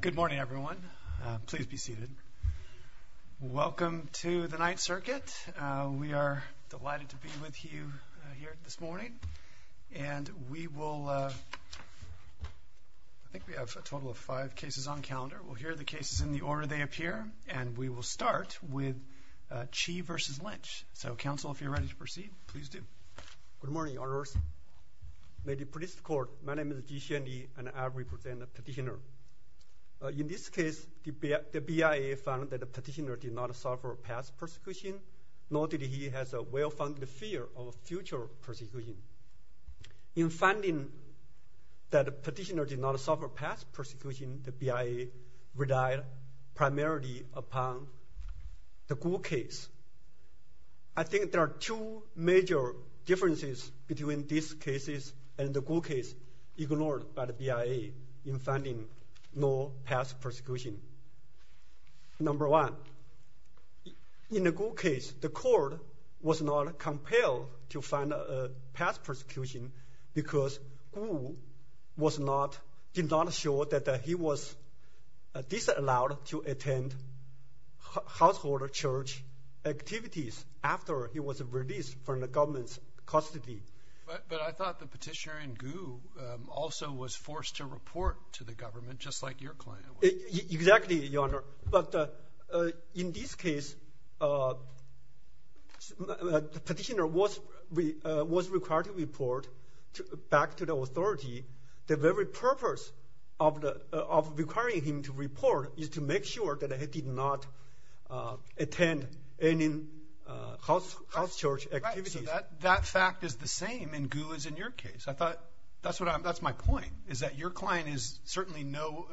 Good morning everyone. Please be seated. Welcome to the Ninth Circuit. We are delighted to be with you here this morning. And we will, I think we have a total of five cases on calendar. We'll hear the cases in the order they appear and we will start with Chi v. Lynch. So council, if you're ready to proceed, please do. Good morning, honors. May the police, court, my name is Chi Hsien-Yee and I represent the petitioner. In this case the BIA found that the petitioner did not suffer past persecution, nor did he has a well-founded fear of future persecution. In finding that the petitioner did not suffer past persecution, the BIA relied primarily upon the Guo case. I think there are two major differences between these cases and the Guo case ignored by the BIA in finding no past persecution. Number one, in the Guo case the court was not compelled to find a past persecution because Guo was not, did not show that he was disallowed to attend household or church activities after he was released from the government's custody. But I thought the petitioner in Guo also was forced to report to the government just like your client. Exactly, your honor, but in this case the petitioner was required to report back to the authority. The very purpose of requiring him to report is to make sure that he did not attend any house church activities. That fact is the same in Guo as in your case. I thought that's what I'm, that's my point, is that your client is certainly no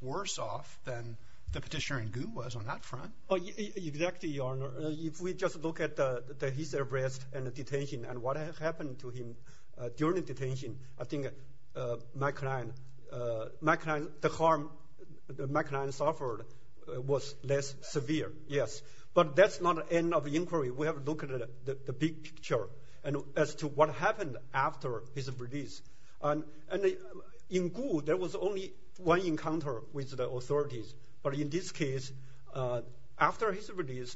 worse off than the petitioner in Guo was on that front. Exactly, your honor. If we just look at his arrest and the detention and what happened to him during the detention, I think my client, my client, the harm my client was less severe, yes. But that's not the end of the inquiry. We have to look at the big picture and as to what happened after his release. And in Guo there was only one encounter with the authorities, but in this case after his release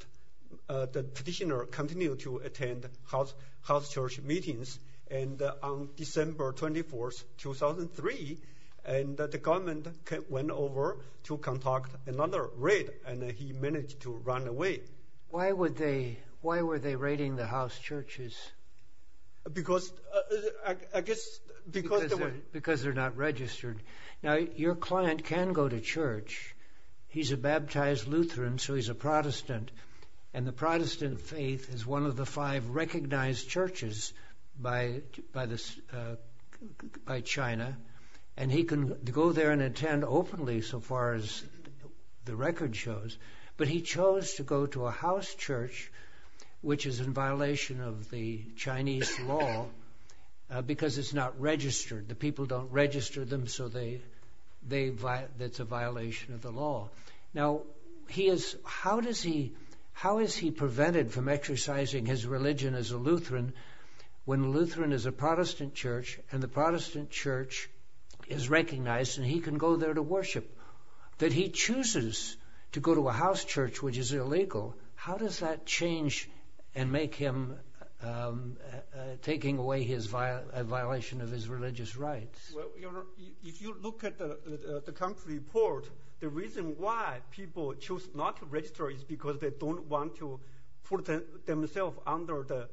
the petitioner continued to attend house church meetings and on December 24th 2003 and the government went over to conduct another raid and he managed to run away. Why would they, why were they raiding the house churches? Because, I guess, because they're not registered. Now your client can go to church. He's a baptized Lutheran so he's a Protestant and the Protestant faith is one of the five recognized churches by China and he can go there and attend openly so far as the record shows, but he chose to go to a house church which is in violation of the Chinese law because it's not registered. The people don't register them so they, it's a violation of the law. Now he is, how does he, how is he prevented from exercising his religion as a Lutheran when Lutheran is a Protestant church and the Protestant church is recognized and he can go there to worship? That he chooses to go to a house church which is illegal, how does that change and make him taking away his violation of his religious rights? If you look at the country report, the reason why people choose not to register is because they don't want to put themselves under the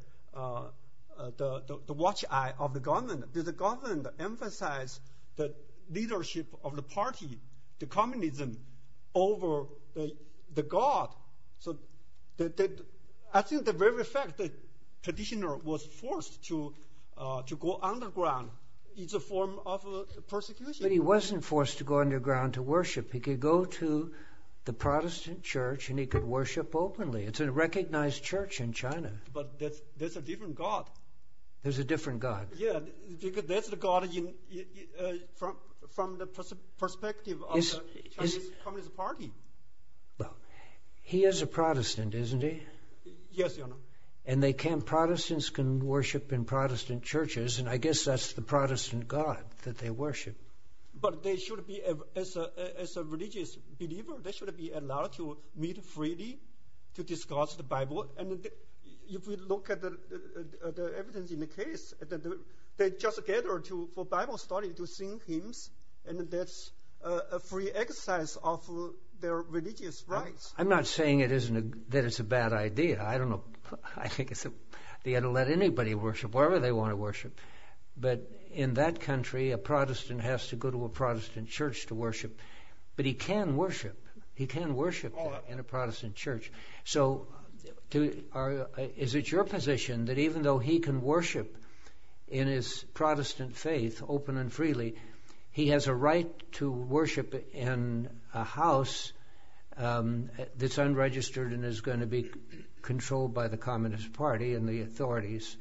watch eye of the government. The government emphasizes the leadership of the party, the communism, over the God. So I think the very fact that the traditioner was forced to go underground is a form of persecution. But he wasn't forced to go underground to openly. It's a recognized church in China. But there's a different God. There's a different God. Yeah, because that's the God from the perspective of the Communist Party. He is a Protestant, isn't he? Yes, Your Honor. And they can, Protestants can worship in Protestant churches and I guess that's the Protestant God that they worship. But they should be, as a religious believer, they should be allowed to meet freely to discuss the Bible. And if we look at the evidence in the case, they just gathered for Bible study to sing hymns. And that's a free exercise of their religious rights. I'm not saying that it's a bad idea. I don't know. I think they ought to let anybody worship, wherever they have to go to a Protestant church to worship. But he can worship. He can worship in a Protestant church. So is it your position that even though he can worship in his Protestant faith, open and freely, he has a right to worship in a house that's unregistered and is going to be controlled by the Communist Party and the authorities.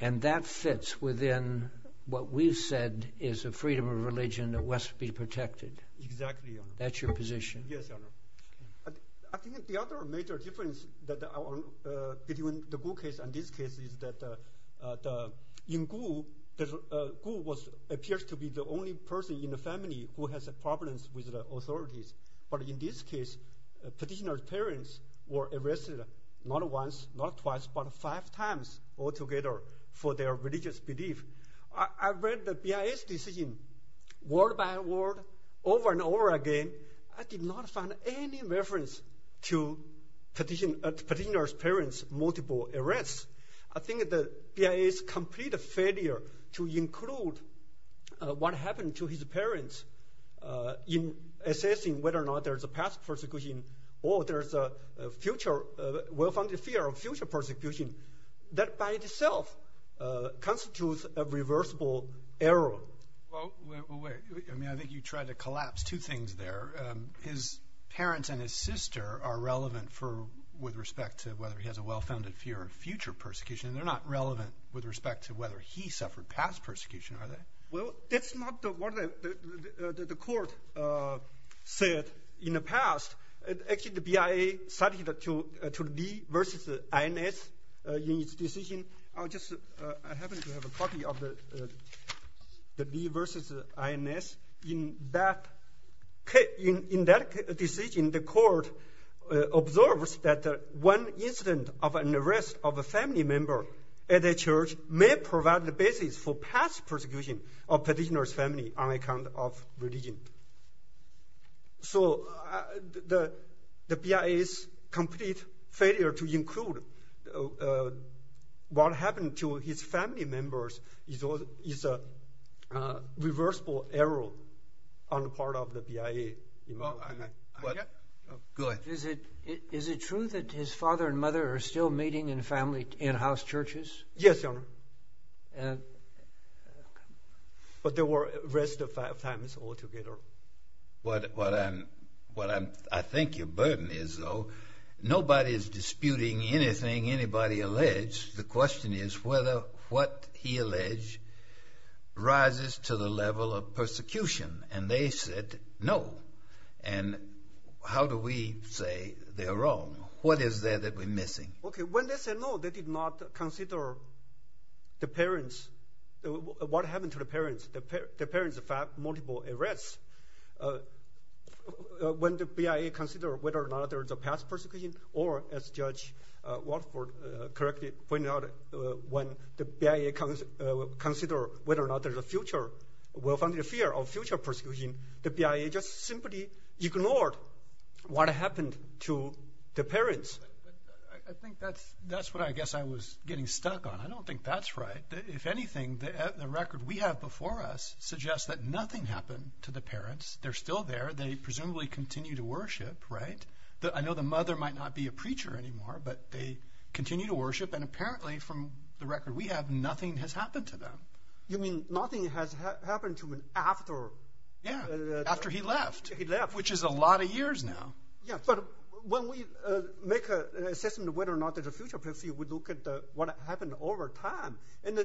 And that fits within what we've said is a freedom of religion that must be protected. Exactly, Your Honor. That's your position. Yes, Your Honor. I think the other major difference between the Gu case and this case is that in Gu, Gu appears to be the only person in the family who has a problem with the authorities. But in this case, petitioner's parents were arrested not once, not twice, but five times altogether for their religious belief. I read the BIA's decision, word by word, over and over again. I did not find any reference to petitioner's parents' multiple arrests. I think the BIA's complete failure to include what happened to his parents in assessing whether or not there's a past persecution or there's a future, well-founded fear of future persecution, that by itself constitutes a reversible error. Well, wait. I mean, I think you tried to collapse two things there. His parents and his sister are relevant for, with respect to whether he has a well-founded fear of future persecution. They're not relevant with respect to whether he suffered past persecution, are they? Well, that's not what the court said in the past. Actually, the BIA cited to Lee versus INS in its decision. I just happen to have a copy of the Lee versus INS. In that decision, the court observes that one incident of an arrest of a family member at a church may provide the basis for past persecution of petitioner's family on account of religion. So, the BIA's complete failure to include what happened to his family members is a reversible error on the part of the BIA. Go ahead. Is it true that his father and mother are still meeting in family in-house churches? Yes, Your Honor. But they were arrested five times altogether. What I think your burden is, though, nobody is disputing anything anybody alleged. The question is whether what he alleged rises to the level of persecution. And they said no. And how do we say they're wrong? What is there that we're missing? Okay. When they said no, they did not consider the parents. What happened to the parents? The parents filed multiple arrests. When the BIA considered whether or not there's a past persecution or, as Judge Watford correctly pointed out, when the BIA considered whether or not there's a future, well-founded fear of future persecution, the BIA just simply ignored what happened to the parents. I think that's what I guess I was getting stuck on. I don't think that's right. If anything, the record we have before us suggests that nothing happened to the parents. They're still there. They presumably continue to worship, right? I know the mother might not be a preacher anymore, but they continue to worship. And apparently, from the record we have, nothing has happened to them. You mean nothing has happened to him after? Yeah, after he left. He left. Which is a lot of years now. Yeah, but when we make an assessment of whether or not there's a future persecution, we look at what happened over time. And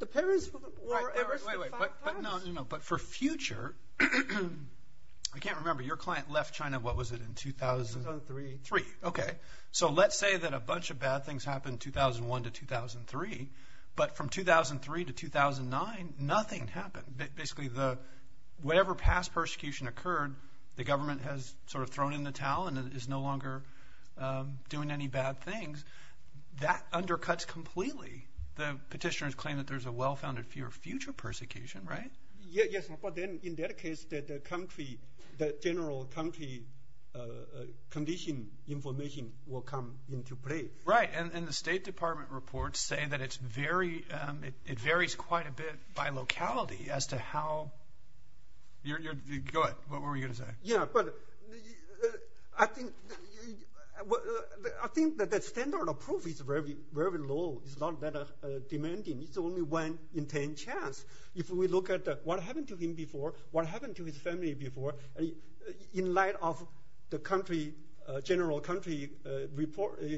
the parents were arrested five times. But for future, I can't remember. Your client left China, what was it, in 2003? Okay. So let's say that a bunch of bad things happened 2001 to 2003, but from 2003 to 2009, nothing happened. Basically, whatever past persecution occurred, the government has sort of thrown in the towel and is no longer doing any bad things. That undercuts completely. The petitioners claim that there's a well-founded fear of future persecution, right? Yes, but then in that case, the general country condition information will come into play. Right, and the State Department reports say that it varies quite a bit by locality as to how – go ahead, what were you going to say? Yeah, but I think that the standard of proof is very low. It's not that demanding. It's only one in 10 chance. If we look at what happened to him before, what happened to his family before, in light of the general country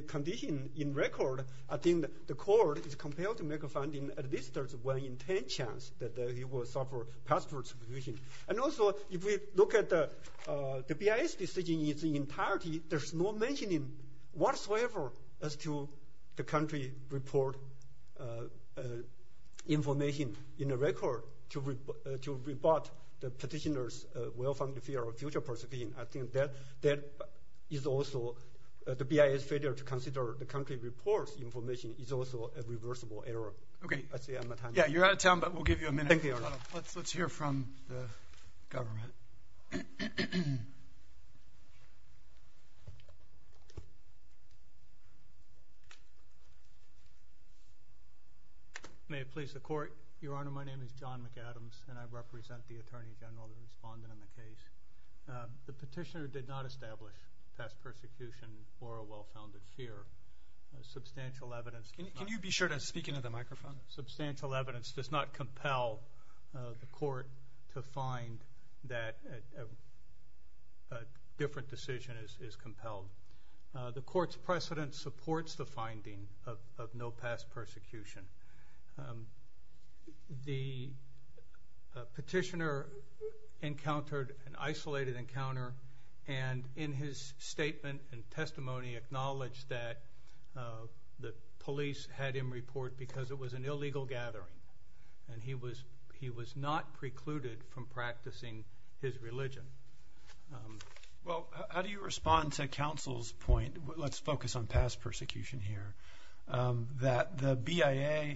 condition in record, I think the court is compelled to make a finding at least there's one in 10 chance that he will suffer past persecution. And also, if we look at the BIS decision in its entirety, there's no mentioning whatsoever as to the country report information in a record to rebut the petitioners' well-founded fear of future persecution. I think that is also – the BIS failure to consider the country report's information is also a reversible error. Okay. Yeah, you're out of time, but we'll give you a minute. Thank you, Your Honor. Let's hear from the government. May it please the Court. Your Honor, my name is John McAdams, and I represent the Attorney General, the respondent in the case. The petitioner did not establish past persecution or a well-founded fear. Substantial evidence – Can you be sure to speak into the microphone? Substantial evidence does not compel the court to find that a different decision is compelled. The court's precedent supports the finding of no past persecution. The petitioner encountered an isolated encounter, and in his statement and testimony acknowledged that the police had him report because it was an illegal gathering, and he was not precluded from practicing his religion. Well, how do you respond to counsel's point – let's focus on past persecution here – that the BIA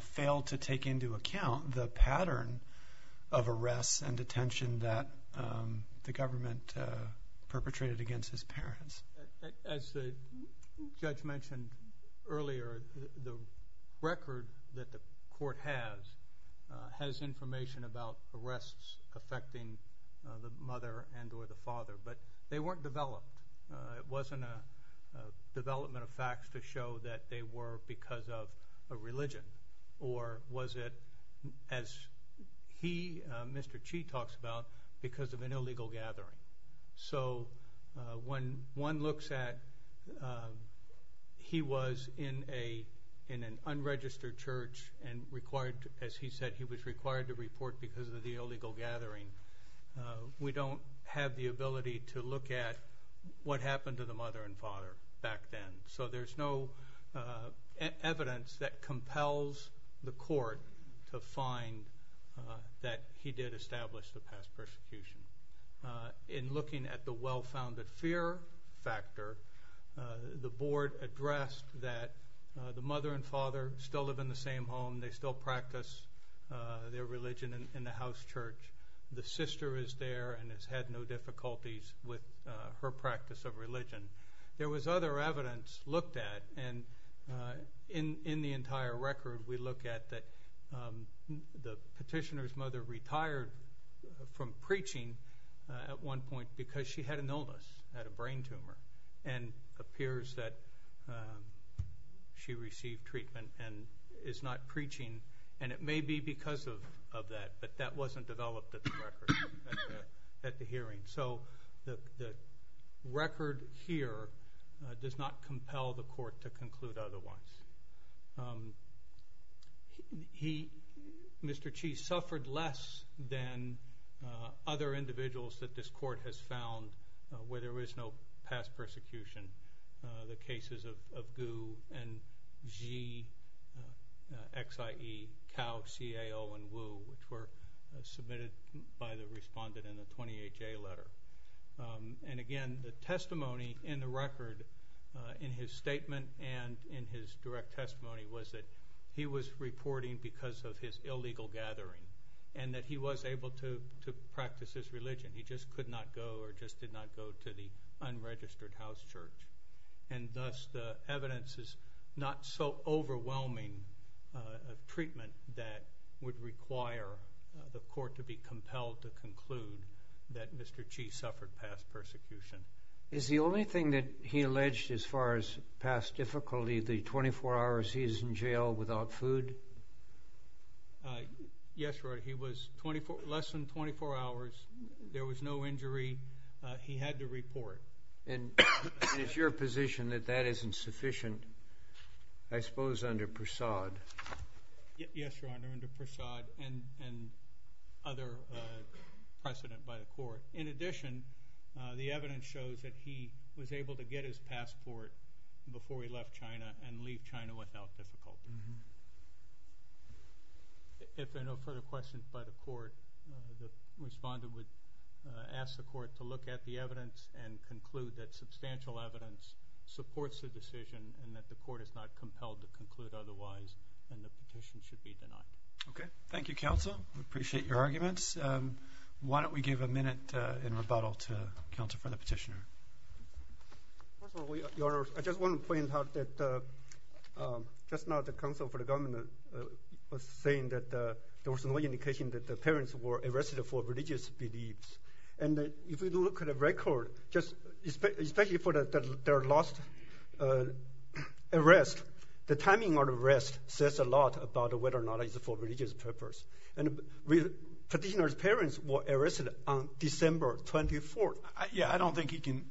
failed to take into account the pattern of arrests and detention that the government perpetrated against his parents? As the judge mentioned earlier, the record that the court has has information about arrests affecting the mother and or the father, but they weren't developed. It wasn't a development of facts to show that they were because of a religion, or was it, as he, Mr. Chee, talks about, because of an illegal gathering? So, when one looks at – he was in an unregistered church and, as he said, he was required to report because of the illegal gathering. We don't have the ability to look at what happened to the mother and father back then, so there's no evidence that compels the court to find that he did establish the past persecution. In looking at the well-founded fear factor, the board addressed that the mother and father still live in the same home. They still practice their religion in the house church. The sister is there and has had no difficulties with her practice of religion. There was other evidence looked at, and in the entire record we look at that the petitioner's mother retired from preaching at one point because she had an illness, had a brain tumor, and appears that she received treatment and is not preaching, and it may be because of that, but that wasn't developed at the hearing. So, the record here does not compel the court to conclude otherwise. He, Mr. Chee, suffered less than other individuals that this court has found where there is no past persecution. The cases of Gu and Xi, X-I-E, Cao, C-A-O, and Wu, which were submitted by the respondent in the 28-J letter. And again, the testimony in the record, in his statement and in his direct testimony, was that he was reporting because of his illegal gathering, and that he was able to practice his religion. He just could not go or just did not go to the unregistered house church. And thus, the evidence is not so overwhelming a treatment that would require the court to be compelled to conclude that Mr. Chee suffered past persecution. Is the only thing that he alleged as far as past difficulty the 24 hours he is in jail without food? Yes, Your Honor, he was less than 24 hours. There was no injury. He had to report. And is your position that that isn't sufficient, I suppose, under Persaud? Yes, Your Honor, under Persaud and other precedent by the court. In addition, the evidence shows that he was able to get his passport before he left China and leave China without difficulty. If there are no further questions by the court, the respondent would ask the court to look at the evidence and conclude that substantial evidence supports the decision and that the court is not compelled to conclude otherwise, and the petition should be denied. Okay. Thank you, counsel. We appreciate your arguments. Why don't we give a minute in rebuttal to counsel for the petitioner? First of all, Your Honor, I just want to point out that just now the counsel for the government was saying that there was no indication that the parents were arrested for religious beliefs. And if you look at the record, especially for their last arrest, the timing of the arrest says a lot about whether or not it's for religious purpose. And petitioner's parents were arrested on December 24th. Yeah, I don't think he can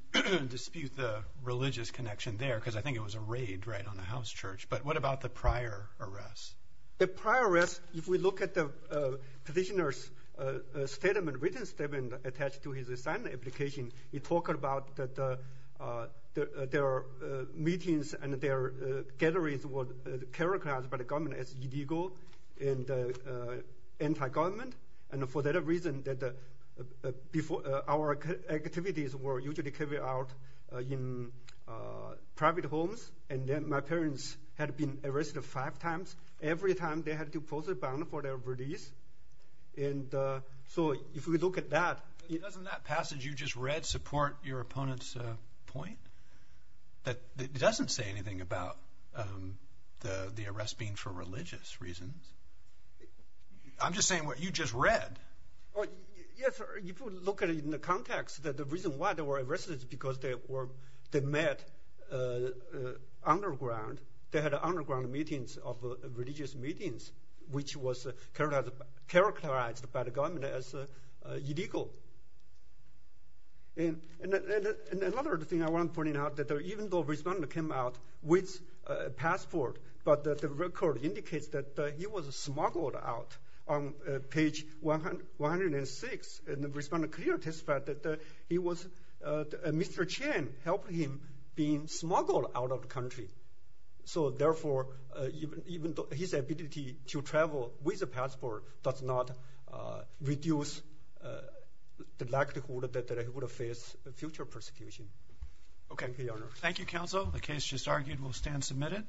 dispute the religious connection there because I think it was a raid right on the house church. But what about the prior arrest? The prior arrest, if we look at the petitioner's statement, written statement attached to his assignment application, it talked about that their meetings and their gatherings were characterized by the government as illegal and anti-government. And for that reason, our activities were usually carried out in private homes. And then my parents had been arrested five times. Every time they had to pose a bond for their release. And so if we look at that. Doesn't that passage you just read support your opponent's point? It doesn't say anything about the arrest being for religious reasons. I'm just saying what you just read. Yes, sir. If you look at it in the context, the reason why they were arrested is because they met underground. They had underground meetings of religious meetings, which was characterized by the government as illegal. And another thing I want to point out is that even though the respondent came out with a passport, but the record indicates that he was smuggled out on page 106. And the respondent clearly testified that Mr. Chen helped him being smuggled out of the country. So, therefore, even his ability to travel with a passport does not reduce the likelihood that he would face future persecution. Thank you, Your Honor. Thank you, Counsel. The case just argued will stand submitted.